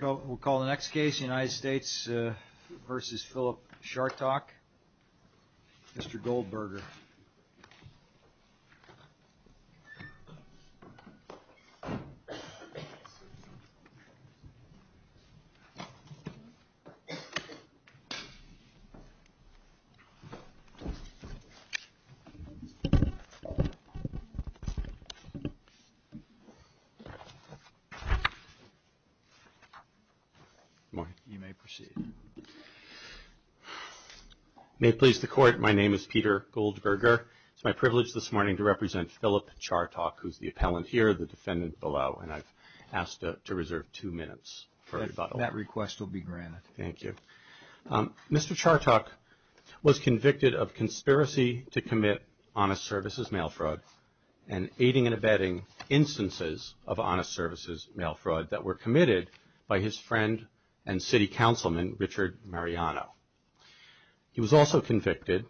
We'll call the next case, United States v. Philip Chartock, Mr. Goldberger. Good morning. You may proceed. May it please the Court, my name is Peter Goldberger. It's my privilege this morning to represent Philip Chartock, who's the appellant here, the defendant below, and I've asked to reserve two minutes for rebuttal. That request will be granted. Thank you. Mr. Chartock was convicted of conspiracy to commit honest services mail fraud and aiding and abetting instances of honest services mail fraud that were committed by his friend and city councilman, Richard Mariano. He was also convicted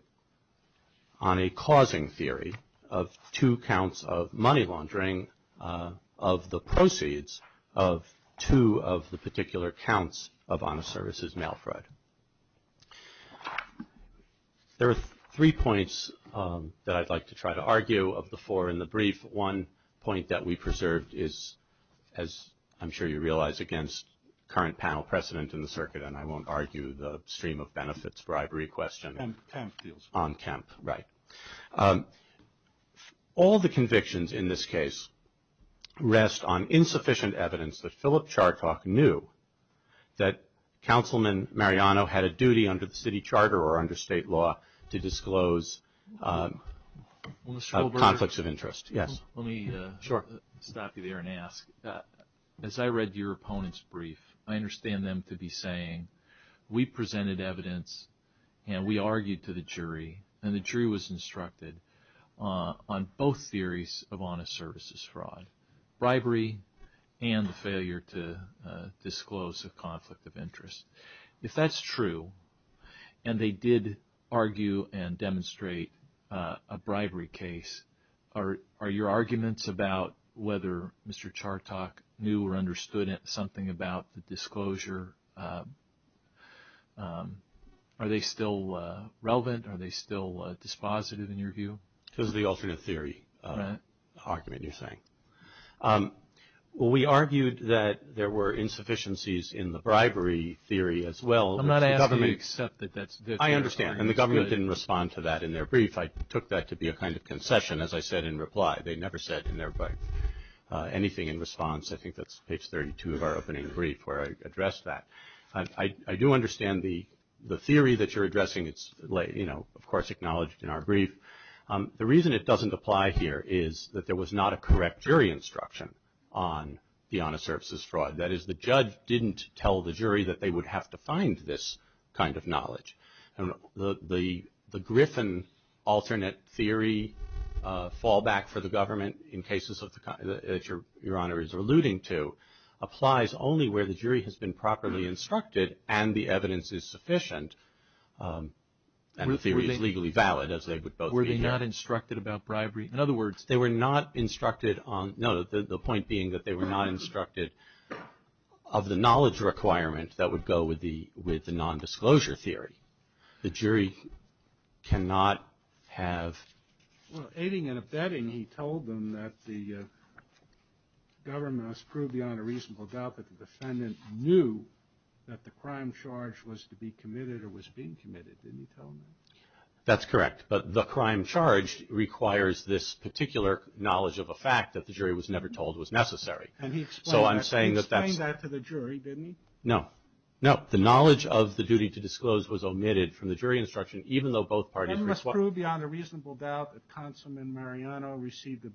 on a causing theory of two counts of money laundering of the proceeds of two of the particular counts of honest services mail fraud. There are three points that I'd like to try to argue of the four in the brief. One point that we preserved is, as I'm sure you realize, against current panel precedent in the circuit, and I won't argue the stream of benefits bribery question. On Kemp. On Kemp, right. All the convictions in this case rest on insufficient evidence that Philip Chartock knew that Councilman Mariano had a duty under the city charter or under state law to disclose conflicts of interest. Yes. Let me stop you there and ask. As I read your opponent's brief, I understand them to be saying, we presented evidence and we argued to the jury, and the jury was instructed on both theories of honest services fraud, bribery, and the failure to disclose a conflict of interest. If that's true, and they did argue and demonstrate a bribery case, are your arguments about whether Mr. Chartock knew or understood something about the disclosure, are they still relevant? Are they still dispositive in your view? This is the alternate theory argument you're saying. We argued that there were insufficiencies in the bribery theory as well. I'm not asking you to accept that that's good. I understand, and the government didn't respond to that in their brief. I took that to be a kind of concession, as I said in reply. They never said anything in response. I think that's page 32 of our opening brief where I addressed that. I do understand the theory that you're addressing. It's, you know, of course, acknowledged in our brief. The reason it doesn't apply here is that there was not a correct jury instruction on the honest services fraud. That is, the judge didn't tell the jury that they would have to find this kind of knowledge. The Griffin alternate theory fallback for the government in cases that Your Honor is alluding to applies only where the jury has been properly instructed and the evidence is sufficient. And the theory is legally valid, as they would both be here. Were they not instructed about bribery? In other words, they were not instructed on, no, the point being that they were not instructed of the knowledge requirement that would go with the non-disclosure theory. The jury cannot have. Well, aiding and abetting, he told them that the government must prove beyond a reasonable doubt that the defendant knew that the crime charge was to be committed or was being committed. Didn't he tell them that? That's correct. But the crime charge requires this particular knowledge of a fact that the jury was never told was necessary. And he explained that to the jury, didn't he? No, no. The knowledge of the duty to disclose was omitted from the jury instruction, even though both parties. He must prove beyond a reasonable doubt that Consulman Mariano received a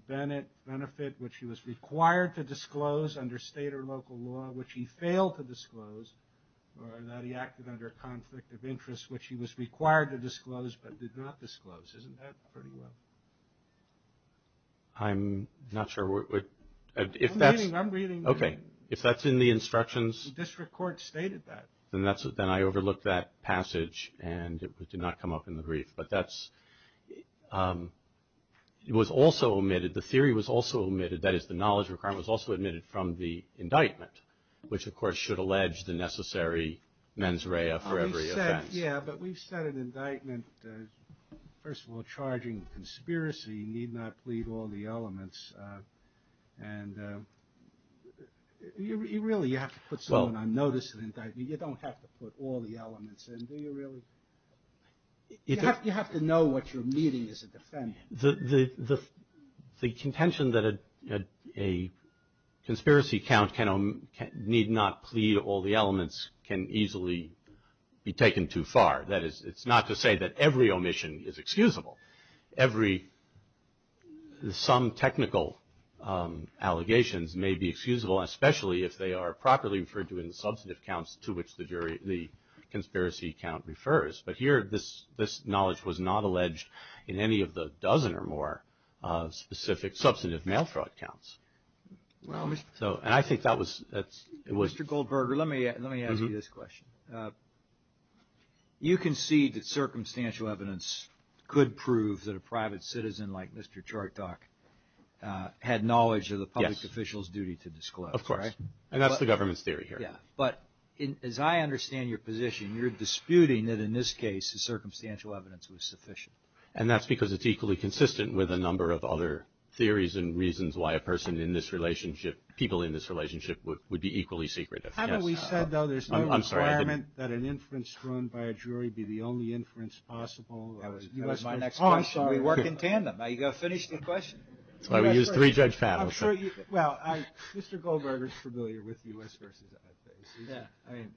benefit, which he was required to disclose under state or local law, which he failed to disclose, or that he acted under a conflict of interest, which he was required to disclose but did not disclose. Isn't that pretty well? I'm not sure. I'm reading. Okay. If that's in the instructions. The district court stated that. Then I overlooked that passage, and it did not come up in the brief. But that was also omitted. The theory was also omitted. That is, the knowledge of the crime was also omitted from the indictment, which, of course, should allege the necessary mens rea for every offense. Yeah, but we've said in indictment, first of all, charging conspiracy, need not plead all the elements. And you really have to put someone on notice in indictment. You don't have to put all the elements in, do you really? You have to know what you're meeting as a defendant. The contention that a conspiracy count need not plead all the elements can easily be taken too far. That is, it's not to say that every omission is excusable. Every some technical allegations may be excusable, especially if they are properly referred to in the substantive counts to which the conspiracy count refers. But here, this knowledge was not alleged in any of the dozen or more specific substantive mail fraud counts. And I think that was – Mr. Goldberger, let me ask you this question. You concede that circumstantial evidence could prove that a private citizen like Mr. Chortok had knowledge of the public official's duty to disclose, right? Yes, of course. And that's the government's theory here. Yeah. But as I understand your position, you're disputing that in this case the circumstantial evidence was sufficient. And that's because it's equally consistent with a number of other theories and reasons why a person in this relationship, people in this relationship would be equally secretive. Haven't we said, though, there's no requirement that an inference thrown by a jury be the only inference possible? That was my next question. We work in tandem. Now, you've got to finish the question. That's why we use three judge panels. I'm sure you – well, Mr. Goldberger is familiar with U.S. versus I.C.C. Yeah. I mean,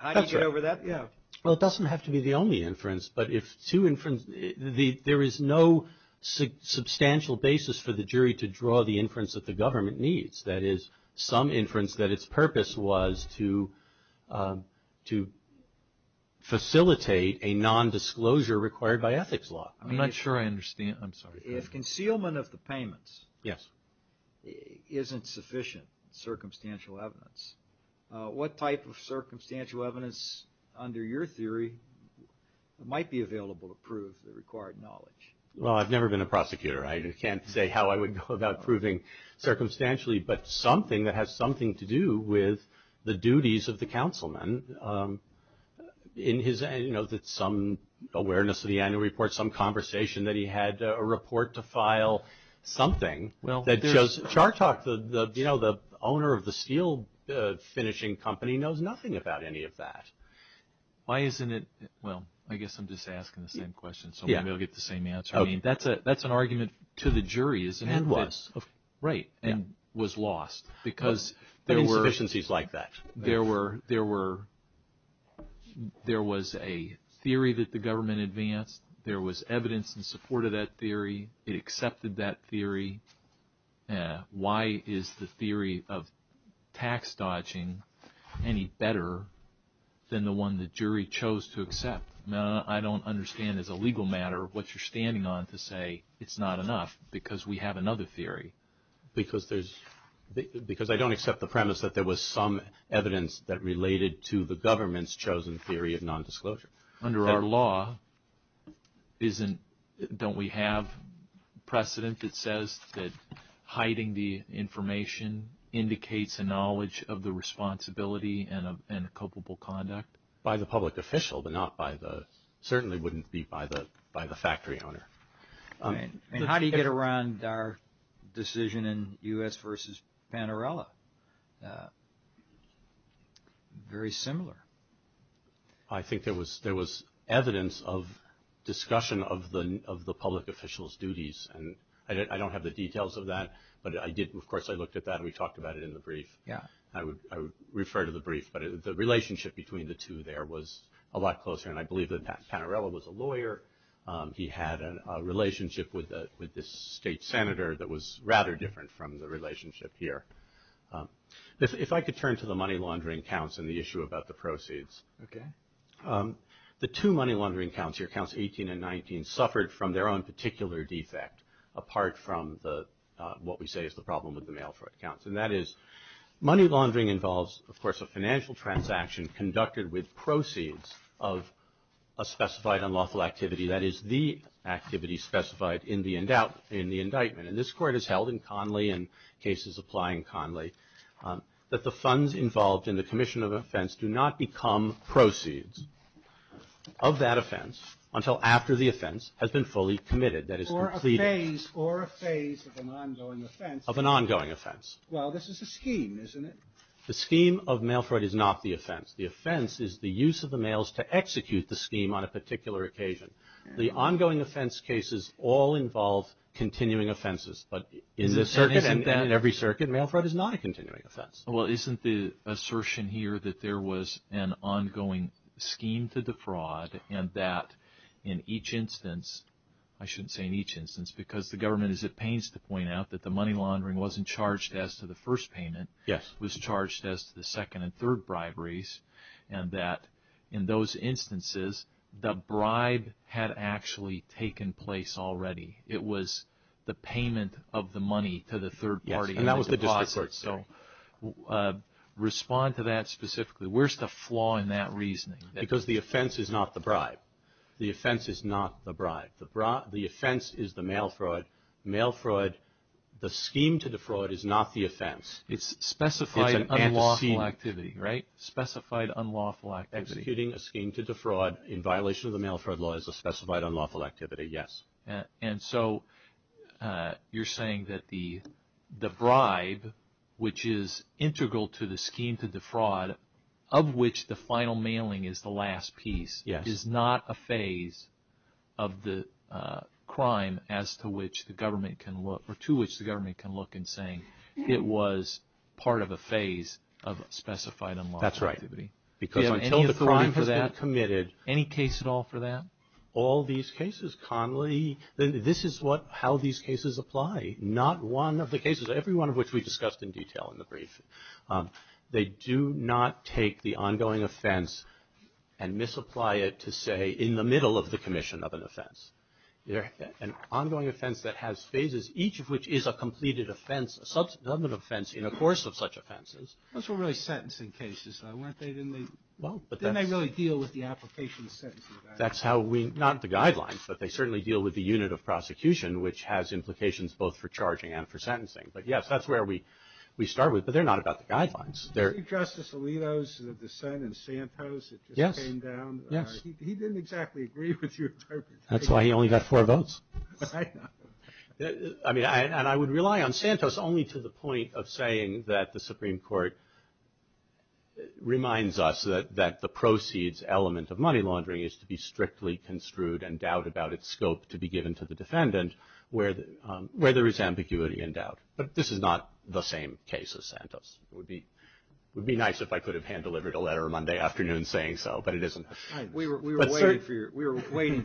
how do you get over that? That's right. Yeah. Well, it doesn't have to be the only inference, but if two inferences – there is no substantial basis for the jury to draw the inference that the government needs, that is, some inference that its purpose was to facilitate a nondisclosure required by ethics law. I'm not sure I understand. I'm sorry. If concealment of the payments isn't sufficient circumstantial evidence, what type of circumstantial evidence under your theory might be available to prove the required knowledge? Well, I've never been a prosecutor. I can't say how I would go about proving circumstantially, but something that has something to do with the duties of the councilman in his – some awareness of the annual report, some conversation that he had a report to file, something that shows – Well, there's – Chartalk, the owner of the steel finishing company, knows nothing about any of that. Why isn't it – well, I guess I'm just asking the same question, so maybe I'll get the same answer. I mean, that's an argument to the jury, isn't it? It was. Right. And was lost because there were – But insufficiencies like that. There were – there was a theory that the government advanced. There was evidence in support of that theory. It accepted that theory. Why is the theory of tax dodging any better than the one the jury chose to accept? I don't understand as a legal matter what you're standing on to say it's not enough because we have another theory. Because there's – because I don't accept the premise that there was some evidence that related to the government's chosen theory of nondisclosure. Under our law, isn't – don't we have precedent that says that hiding the information indicates a knowledge of the responsibility and a culpable conduct? By the public official, but not by the – certainly wouldn't be by the factory owner. I mean, how do you get around our decision in U.S. versus Panarello? Very similar. I think there was evidence of discussion of the public official's duties. And I don't have the details of that, but I did – of course, I looked at that and we talked about it in the brief. Yeah. I would refer to the brief, but the relationship between the two there was a lot closer. And I believe that Panarello was a lawyer. He had a relationship with this state senator that was rather different from the relationship here. If I could turn to the money laundering counts and the issue about the proceeds. Okay. The two money laundering counts here, counts 18 and 19, suffered from their own particular defect, apart from the – what we say is the problem with the mail fraud counts. And that is money laundering involves, of course, a financial transaction conducted with proceeds of a specified unlawful activity. That is, the activity specified in the indictment. And this Court has held in Conley and cases applying Conley that the funds involved in the commission of offense do not become proceeds of that offense until after the offense has been fully committed. That is, completed. Or a phase of an ongoing offense. Of an ongoing offense. Well, this is a scheme, isn't it? The scheme of mail fraud is not the offense. The offense is the use of the mails to execute the scheme on a particular occasion. The ongoing offense cases all involve continuing offenses. But in every circuit, mail fraud is not a continuing offense. Well, isn't the assertion here that there was an ongoing scheme to defraud and that in each instance – mail laundering wasn't charged as to the first payment. Yes. It was charged as to the second and third briberies. And that in those instances, the bribe had actually taken place already. It was the payment of the money to the third party. Yes. And that was the deposit. So, respond to that specifically. Where's the flaw in that reasoning? Because the offense is not the bribe. The offense is not the bribe. The offense is the mail fraud. Mail fraud, the scheme to defraud is not the offense. It's specified unlawful activity, right? Specified unlawful activity. Executing a scheme to defraud in violation of the mail fraud law is a specified unlawful activity, yes. And so, you're saying that the bribe, which is integral to the scheme to defraud, of which the final mailing is the last piece, is not a phase of the crime as to which the government can look or to which the government can look in saying it was part of a phase of specified unlawful activity. That's right. Because until the crime has been committed. Any case at all for that? All these cases, Connolly, this is how these cases apply. Not one of the cases, every one of which we discussed in detail in the brief. They do not take the ongoing offense and misapply it to say in the middle of the commission of an offense. An ongoing offense that has phases, each of which is a completed offense, a subsequent offense in the course of such offenses. Those were really sentencing cases, weren't they? Didn't they really deal with the application sentencing? That's how we, not the guidelines, but they certainly deal with the unit of prosecution, which has implications both for charging and for sentencing. But yes, that's where we start with. But they're not about the guidelines. Did you see Justice Alito's dissent in Santos that just came down? Yes. He didn't exactly agree with your interpretation. That's why he only got four votes. I know. And I would rely on Santos only to the point of saying that the Supreme Court reminds us that the proceeds element of money laundering is to be strictly construed and doubt about its scope to be given to the defendant where there is ambiguity and doubt. But this is not the same case as Santos. It would be nice if I could have hand-delivered a letter Monday afternoon saying so, but it isn't. We were waiting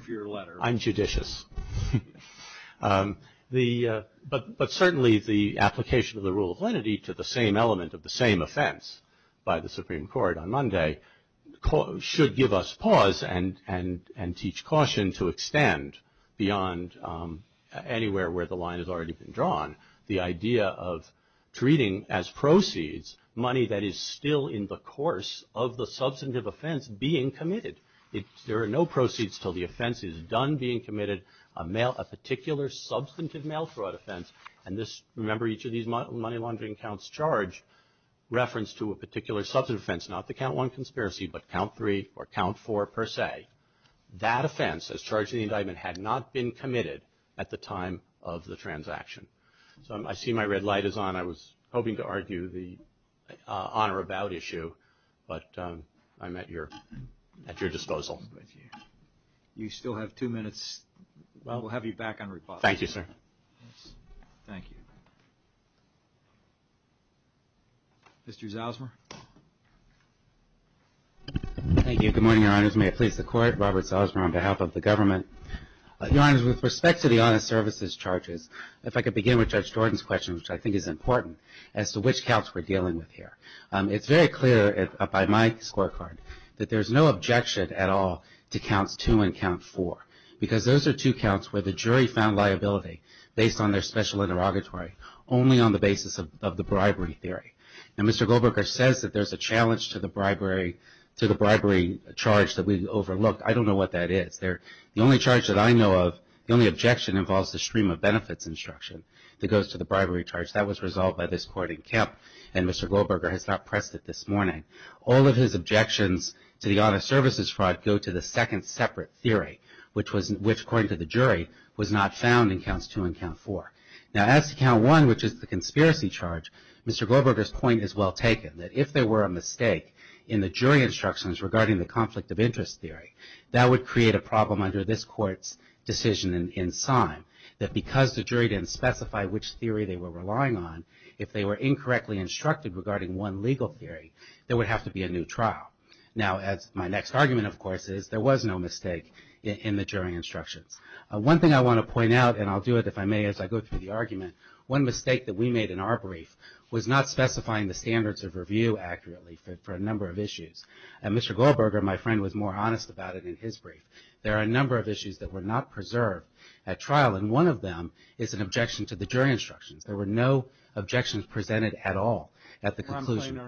for your letter. I'm judicious. But certainly the application of the rule of lenity to the same element of the same offense by the Supreme Court on Monday should give us pause and teach caution to extend beyond anywhere where the line has already been drawn the idea of treating as proceeds money that is still in the course of the substantive offense being committed. There are no proceeds until the offense is done being committed, a particular substantive mail fraud offense. And remember each of these money laundering counts charge reference to a particular substantive offense, not the count one conspiracy, but count three or count four per se. That offense as charged in the indictment had not been committed at the time of the transaction. So I see my red light is on. I was hoping to argue the on or about issue, but I'm at your disposal. You still have two minutes. We'll have you back on rebuttal. Thank you, sir. Thank you. Mr. Zalsmer. Thank you. Good morning, Your Honors. May it please the Court. Robert Zalsmer on behalf of the government. Your Honors, with respect to the honest services charges, if I could begin with Judge Jordan's question, which I think is important, as to which counts we're dealing with here. It's very clear by my scorecard that there's no objection at all to counts two and count four, because those are two counts where the jury found liability based on their special interrogatory, only on the basis of the bribery theory. Now, Mr. Goldberger says that there's a challenge to the bribery charge that we overlooked. I don't know what that is. The only charge that I know of, the only objection involves the stream of benefits instruction that goes to the bribery charge. That was resolved by this Court in Kemp, and Mr. Goldberger has not pressed it this morning. All of his objections to the honest services fraud go to the second separate theory, which, according to the jury, was not found in counts two and count four. Now, as to count one, which is the conspiracy charge, Mr. Goldberger's point is well taken, that if there were a mistake in the jury instructions regarding the conflict of interest theory, that would create a problem under this Court's decision in Sime, that because the jury didn't specify which theory they were relying on, if they were incorrectly instructed regarding one legal theory, there would have to be a new trial. Now, my next argument, of course, is there was no mistake in the jury instructions. One thing I want to point out, and I'll do it if I may as I go through the argument, one mistake that we made in our brief was not specifying the standards of review accurately for a number of issues. Mr. Goldberger, my friend, was more honest about it in his brief. There are a number of issues that were not preserved at trial, and one of them is an objection to the jury instructions. There were no objections presented at all at the conclusion.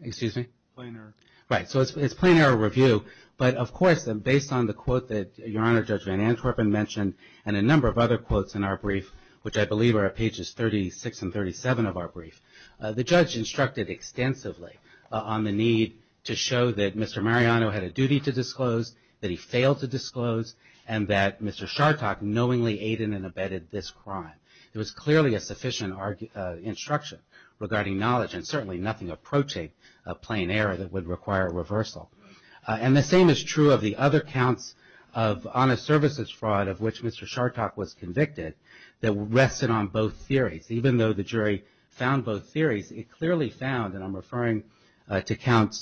Excuse me? Plain error. Right, so it's plain error review. But, of course, based on the quote that Your Honor Judge Van Antwerpen mentioned and a number of other quotes in our brief, which I believe are at pages 36 and 37 of our brief, the judge instructed extensively on the need to show that Mr. Mariano had a duty to disclose, that he failed to disclose, and that Mr. Chartok knowingly aided and abetted this crime. There was clearly a sufficient instruction regarding knowledge and certainly nothing approaching a plain error that would require reversal. And the same is true of the other counts of honest services fraud of which Mr. Chartok was convicted that rested on both theories. Even though the jury found both theories, it clearly found, and I'm referring to count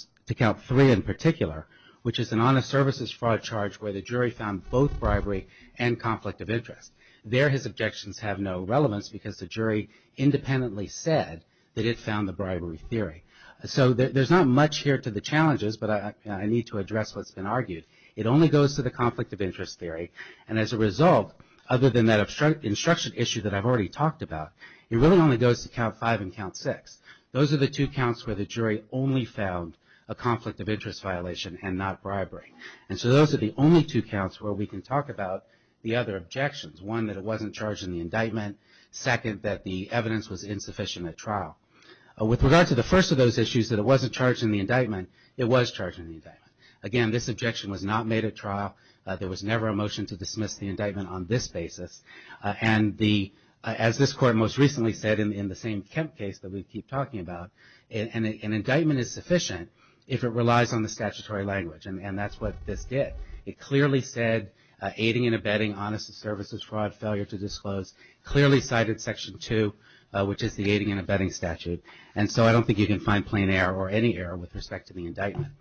three in particular, which is an honest services fraud charge where the jury found both bribery and conflict of interest. There his objections have no relevance because the jury independently said that it found the bribery theory. So there's not much here to the challenges, but I need to address what's been argued. It only goes to the conflict of interest theory. And as a result, other than that instruction issue that I've already talked about, it really only goes to count five and count six. Those are the two counts where the jury only found a conflict of interest violation and not bribery. And so those are the only two counts where we can talk about the other objections. One, that it wasn't charged in the indictment. Second, that the evidence was insufficient at trial. With regard to the first of those issues that it wasn't charged in the indictment, it was charged in the indictment. Again, this objection was not made at trial. There was never a motion to dismiss the indictment on this basis. And as this court most recently said in the same Kemp case that we keep talking about, an indictment is sufficient if it relies on the statutory language. And that's what this did. It clearly said aiding and abetting honest services fraud, failure to disclose, clearly cited Section 2, which is the aiding and abetting statute. And so I don't think you can find plain error or any error with respect to the indictment.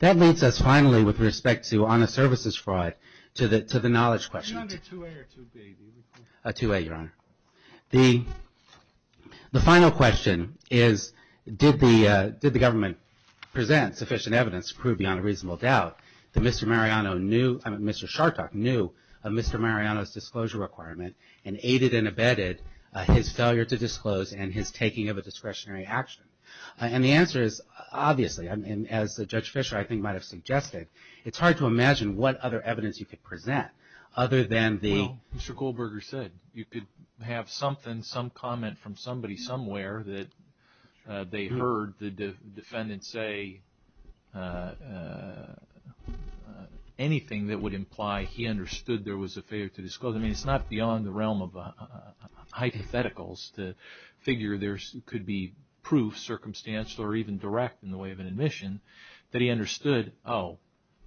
That leads us, finally, with respect to honest services fraud, to the knowledge question. Two A, Your Honor. The final question is, did the government present sufficient evidence to prove beyond a reasonable doubt that Mr. Mariano knew, I mean, Mr. Chartok knew of Mr. Mariano's disclosure requirement and aided and abetted his failure to disclose and his taking of a discretionary action? And the answer is, obviously, as Judge Fischer, I think, might have suggested, it's hard to imagine what other evidence you could present other than the- have something, some comment from somebody somewhere that they heard the defendant say anything that would imply he understood there was a failure to disclose. I mean, it's not beyond the realm of hypotheticals to figure there could be proof, circumstantial or even direct in the way of an admission that he understood, oh,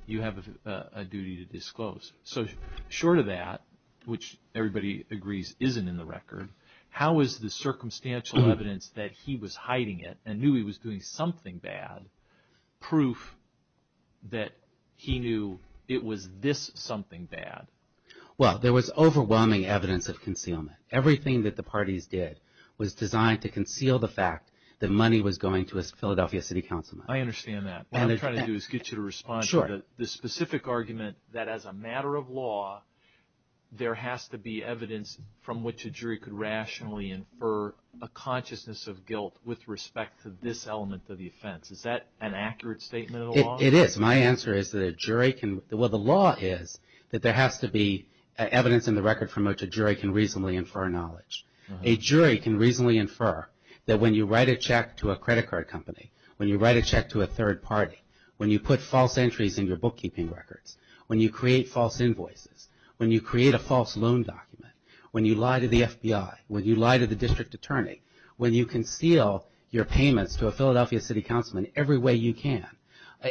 you have a duty to disclose. So short of that, which everybody agrees isn't in the record, how is the circumstantial evidence that he was hiding it and knew he was doing something bad, proof that he knew it was this something bad? Well, there was overwhelming evidence of concealment. Everything that the parties did was designed to conceal the fact that money was going to a Philadelphia City Councilman. I understand that. What I'm trying to do is get you to respond to the specific argument that as a matter of law there has to be evidence from which a jury could rationally infer a consciousness of guilt with respect to this element of the offense. Is that an accurate statement of the law? It is. My answer is that a jury can- well, the law is that there has to be evidence in the record from which a jury can reasonably infer knowledge. A jury can reasonably infer that when you write a check to a credit card company, when you write a check to a third party, when you put false entries in your bookkeeping records, when you create false invoices, when you create a false loan document, when you lie to the FBI, when you lie to the district attorney, when you conceal your payments to a Philadelphia City Councilman every way you can,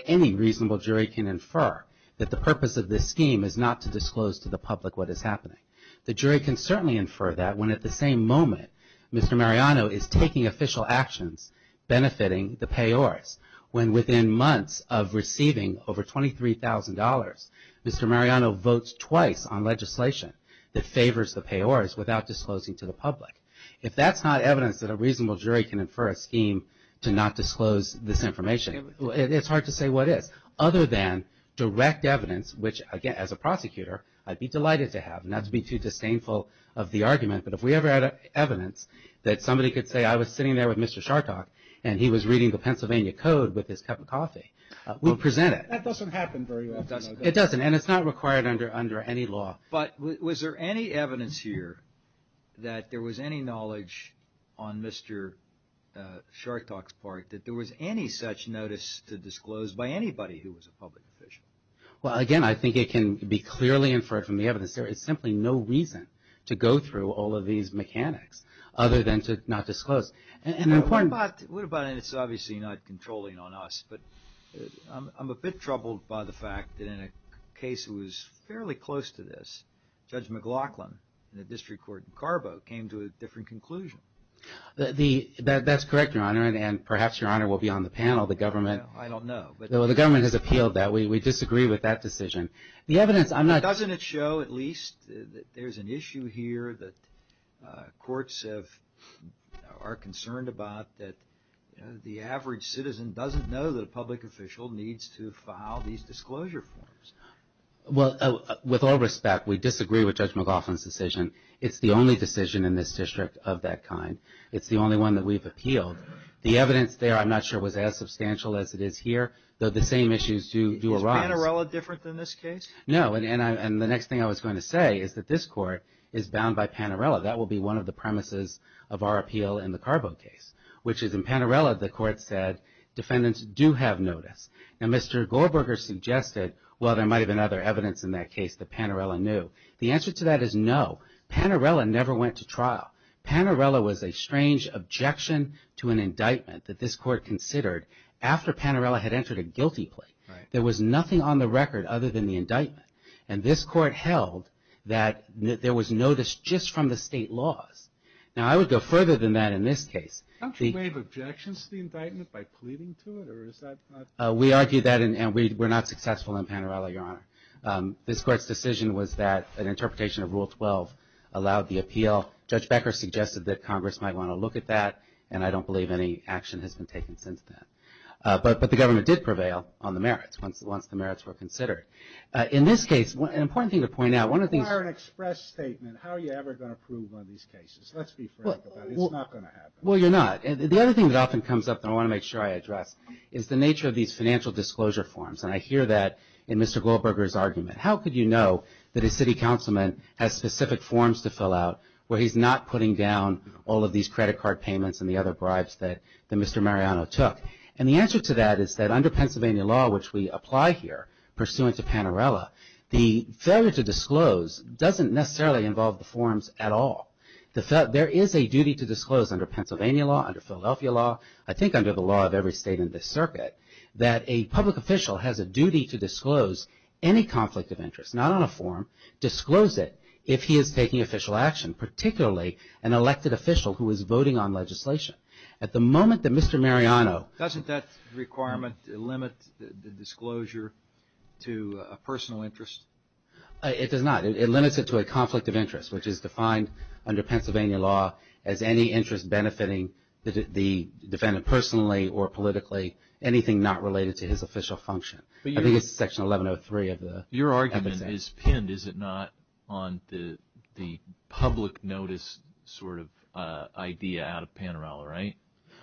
any reasonable jury can infer that the purpose of this scheme is not to disclose to the public what is happening. The jury can certainly infer that when at the same moment Mr. Mariano is taking official actions benefiting the payors, when within months of receiving over $23,000, Mr. Mariano votes twice on legislation that favors the payors without disclosing to the public. If that's not evidence that a reasonable jury can infer a scheme to not disclose this information, it's hard to say what is. Other than direct evidence, which, again, as a prosecutor, I'd be delighted to have, not to be too disdainful of the argument, but if we ever had evidence that somebody could say, I was sitting there with Mr. Chartok and he was reading the Pennsylvania Code with his cup of coffee, we'll present it. That doesn't happen very often. It doesn't, and it's not required under any law. But was there any evidence here that there was any knowledge on Mr. Chartok's part that there was any such notice to disclose by anybody who was a public official? Well, again, I think it can be clearly inferred from the evidence there is simply no reason to go through all of these mechanics other than to not disclose. What about, and it's obviously not controlling on us, but I'm a bit troubled by the fact that in a case that was fairly close to this, Judge McLaughlin in the district court in Carbo came to a different conclusion. That's correct, Your Honor, and perhaps, Your Honor, we'll be on the panel. I don't know. The government has appealed that. We disagree with that decision. The evidence, I'm not. Doesn't it show at least that there's an issue here that courts are concerned about that the average citizen doesn't know that a public official needs to file these disclosure forms? Well, with all respect, we disagree with Judge McLaughlin's decision. It's the only decision in this district of that kind. It's the only one that we've appealed. The evidence there, I'm not sure, was as substantial as it is here, though the same issues do arise. Is Panarella different than this case? No, and the next thing I was going to say is that this court is bound by Panarella. That will be one of the premises of our appeal in the Carbo case, which is in Panarella the court said defendants do have notice. Now, Mr. Gorberger suggested, well, there might have been other evidence in that case that Panarella knew. The answer to that is no. Panarella never went to trial. Panarella was a strange objection to an indictment that this court considered after Panarella had entered a guilty plea. There was nothing on the record other than the indictment, and this court held that there was notice just from the state laws. Now, I would go further than that in this case. Don't you waive objections to the indictment by pleading to it, or is that not? We argue that, and we're not successful in Panarella, Your Honor. This court's decision was that an interpretation of Rule 12 allowed the appeal. Judge Becker suggested that Congress might want to look at that, and I don't believe any action has been taken since then. But the government did prevail on the merits once the merits were considered. In this case, an important thing to point out, one of the things— You require an express statement. How are you ever going to prove on these cases? Let's be frank about it. It's not going to happen. Well, you're not. The other thing that often comes up that I want to make sure I address is the nature of these financial disclosure forms, and I hear that in Mr. Gorberger's argument. How could you know that a city councilman has specific forms to fill out where he's not putting down all of these credit card payments and the other bribes that Mr. Mariano took? And the answer to that is that under Pennsylvania law, which we apply here pursuant to Panerella, the failure to disclose doesn't necessarily involve the forms at all. There is a duty to disclose under Pennsylvania law, under Philadelphia law, I think under the law of every state in this circuit, that a public official has a duty to disclose any conflict of interest, not on a form, disclose it if he is taking official action, particularly an elected official who is voting on legislation. At the moment that Mr. Mariano… Doesn't that requirement limit the disclosure to a personal interest? It does not. It limits it to a conflict of interest, which is defined under Pennsylvania law as any interest benefiting the defendant personally or politically, anything not related to his official function. I think it's section 1103 of the… Your argument is pinned, is it not, on the public notice sort of idea out of Panerella, right?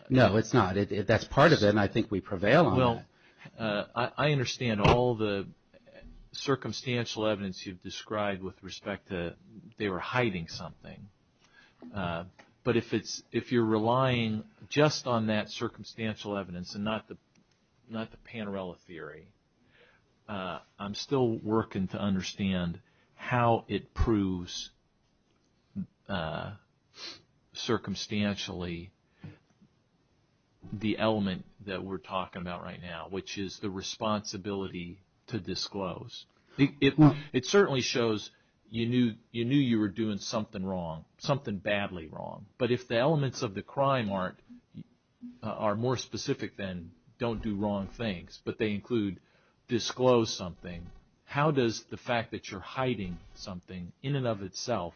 No, it's not. That's part of it, and I think we prevail on it. Well, I understand all the circumstantial evidence you've described with respect to they were hiding something. But if you're relying just on that circumstantial evidence and not the Panerella theory, I'm still working to understand how it proves circumstantially the element that we're talking about right now, which is the responsibility to disclose. It certainly shows you knew you were doing something wrong, something badly wrong. But if the elements of the crime are more specific than don't do wrong things, but they include disclose something, how does the fact that you're hiding something in and of itself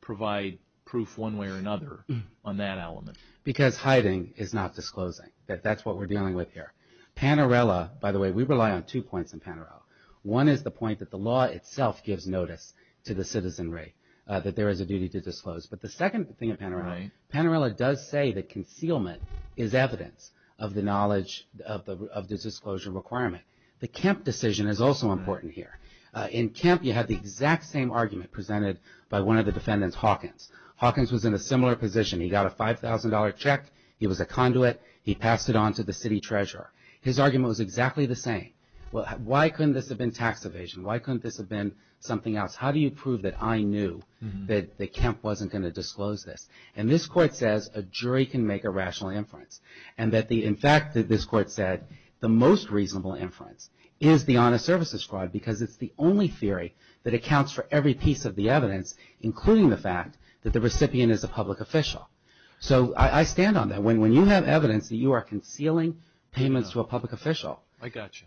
provide proof one way or another on that element? Because hiding is not disclosing. That's what we're dealing with here. Panerella, by the way, we rely on two points in Panerella. One is the point that the law itself gives notice to the citizenry that there is a duty to disclose. But the second thing in Panerella, Panerella does say that concealment is evidence of the disclosure requirement. The Kemp decision is also important here. In Kemp, you have the exact same argument presented by one of the defendants, Hawkins. Hawkins was in a similar position. He got a $5,000 check. He was a conduit. He passed it on to the city treasurer. His argument was exactly the same. Why couldn't this have been tax evasion? Why couldn't this have been something else? How do you prove that I knew that Kemp wasn't going to disclose this? And this court says a jury can make a rational inference. And that, in fact, this court said the most reasonable inference is the honest services fraud because it's the only theory that accounts for every piece of the evidence, including the fact that the recipient is a public official. So I stand on that. When you have evidence that you are concealing payments to a public official. I got you.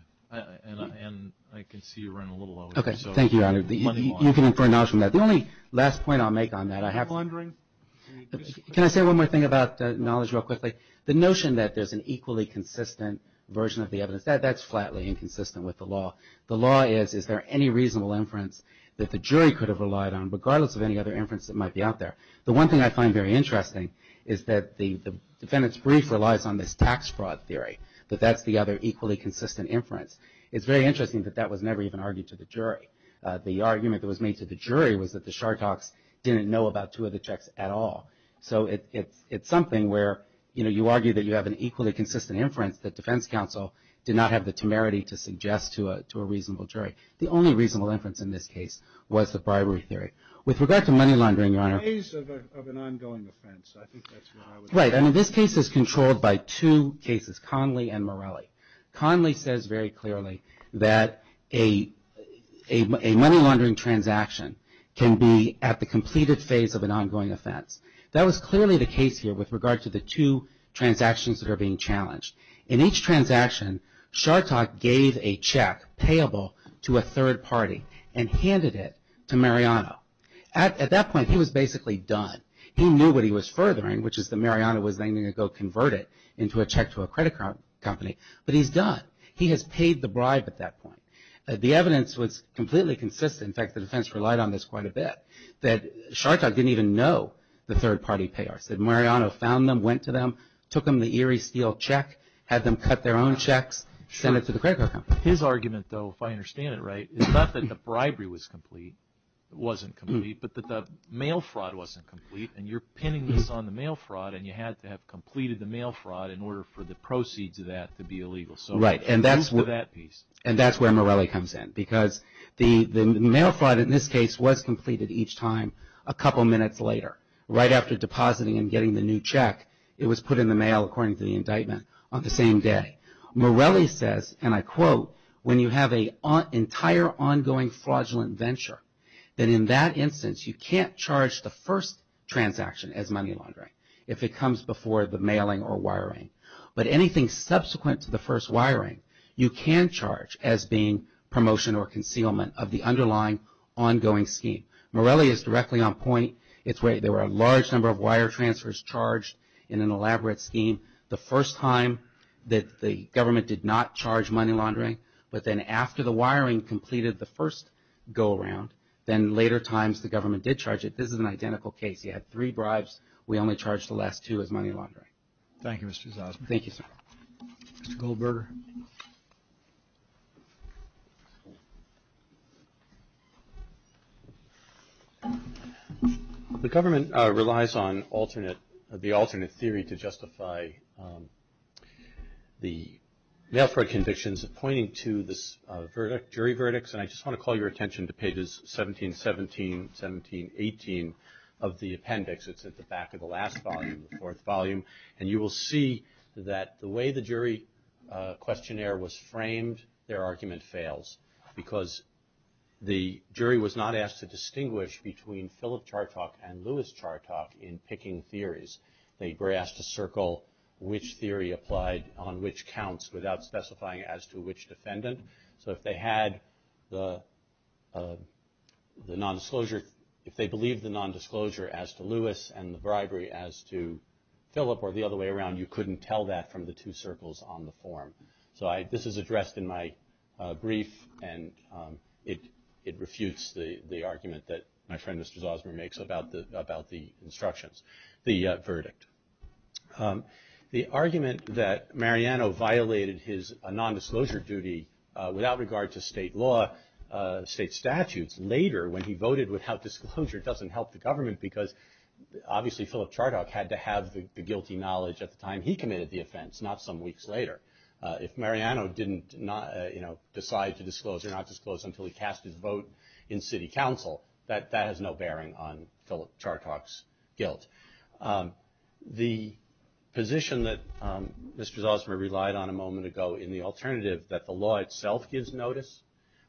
And I can see you're running a little low. Okay. Thank you, Your Honor. You can infer knowledge from that. The only last point I'll make on that, I have. I'm wondering. Can I say one more thing about knowledge real quickly? The notion that there's an equally consistent version of the evidence, that's flatly inconsistent with the law. The law is, is there any reasonable inference that the jury could have relied on, regardless of any other inference that might be out there? The one thing I find very interesting is that the defendant's brief relies on this tax fraud theory, that that's the other equally consistent inference. It's very interesting that that was never even argued to the jury. The argument that was made to the jury was that the Shartoks didn't know about two of the checks at all. So it's something where, you know, you argue that you have an equally consistent inference that defense counsel did not have the temerity to suggest to a reasonable jury. The only reasonable inference in this case was the bribery theory. With regard to money laundering, Your Honor. Ways of an ongoing offense. I think that's what I would say. Right. I mean, this case is controlled by two cases, Conley and Morelli. Conley says very clearly that a money laundering transaction can be at the completed phase of an ongoing offense. That was clearly the case here with regard to the two transactions that are being challenged. In each transaction, Shartok gave a check payable to a third party and handed it to Mariano. At that point, he was basically done. He knew what he was furthering, which is that Mariano was then going to go convert it into a check to a credit card company. But he's done. He has paid the bribe at that point. The evidence was completely consistent. In fact, the defense relied on this quite a bit. That Shartok didn't even know the third party payers. That Mariano found them, went to them, took them the Erie Steel check, had them cut their own checks, send it to the credit card company. His argument, though, if I understand it right, is not that the bribery was complete, wasn't complete, but that the mail fraud wasn't complete and you're pinning this on the mail fraud and you had to have completed the mail fraud in order for the proceeds of that to be illegal. Right. And that's where Morelli comes in because the mail fraud in this case was completed each time a couple minutes later. Right after depositing and getting the new check, it was put in the mail, according to the indictment, on the same day. Morelli says, and I quote, when you have an entire ongoing fraudulent venture, then in that instance you can't charge the first transaction as money laundering if it comes before the mailing or wiring. But anything subsequent to the first wiring, you can charge as being promotion or concealment of the underlying ongoing scheme. Morelli is directly on point. There were a large number of wire transfers charged in an elaborate scheme the first time that the government did not charge money laundering. But then after the wiring completed the first go around, then later times the government did charge it. This is an identical case. You had three bribes. We only charged the last two as money laundering. Thank you, Mr. Zosman. Thank you, sir. Mr. Goldberger. The government relies on the alternate theory to justify the mail fraud convictions pointing to this jury verdicts. And I just want to call your attention to pages 17, 17, 17, 18 of the appendix. It's at the back of the last volume, the fourth volume. And you will see that the way the jury questionnaire was framed, their argument fails. Because the jury was not asked to distinguish between Philip Chartok and Lewis Chartok in picking theories. They were asked to circle which theory applied on which counts without specifying as to which defendant. So if they had the nondisclosure, if they believed the nondisclosure as to Lewis and the bribery as to Philip or the other way around, you couldn't tell that from the two circles on the form. So this is addressed in my brief and it refutes the argument that my friend, Mr. Zosman, makes about the instructions, the verdict. The argument that Mariano violated his nondisclosure duty without regard to state law, state statutes, later when he voted without disclosure, it doesn't help the government because obviously Philip Chartok had to have the guilty knowledge at the time he committed the offense, not some weeks later. If Mariano didn't decide to disclose or not disclose until he cast his vote in city council, that has no bearing on Philip Chartok's guilt. The position that Mr. Zosman relied on a moment ago in the alternative that the law itself gives notice,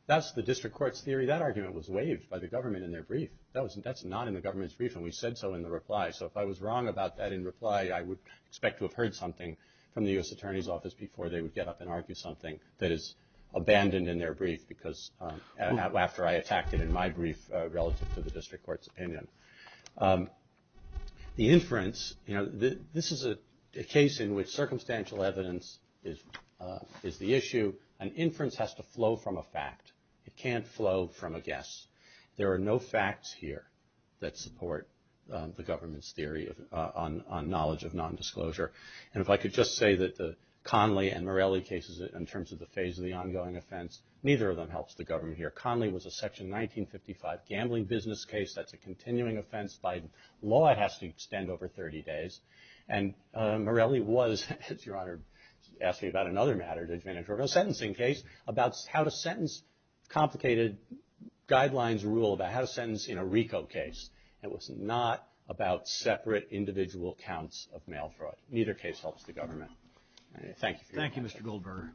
that's the district court's theory. That argument was waived by the government in their brief. That's not in the government's brief and we said so in the reply. So if I was wrong about that in reply, I would expect to have heard something from the U.S. Attorney's Office before they would get up and argue something that is abandoned in their brief after I attacked it in my brief relative to the district court's opinion. The inference, this is a case in which circumstantial evidence is the issue. An inference has to flow from a fact. It can't flow from a guess. There are no facts here that support the government's theory on knowledge of nondisclosure. And if I could just say that the Conley and Morelli cases in terms of the phase of the ongoing offense, neither of them helps the government here. Conley was a section 1955 gambling business case. That's a continuing offense by law. It has to extend over 30 days. And Morelli was, as your Honor asked me about another matter, a sentencing case about how to sentence complicated guidelines rule, about how to sentence in a RICO case. It was not about separate individual counts of mail fraud. Neither case helps the government. Thank you. Thank you, Mr. Goldberger.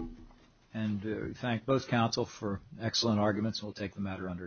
And thank both counsel for excellent arguments. We'll take the matter under advice.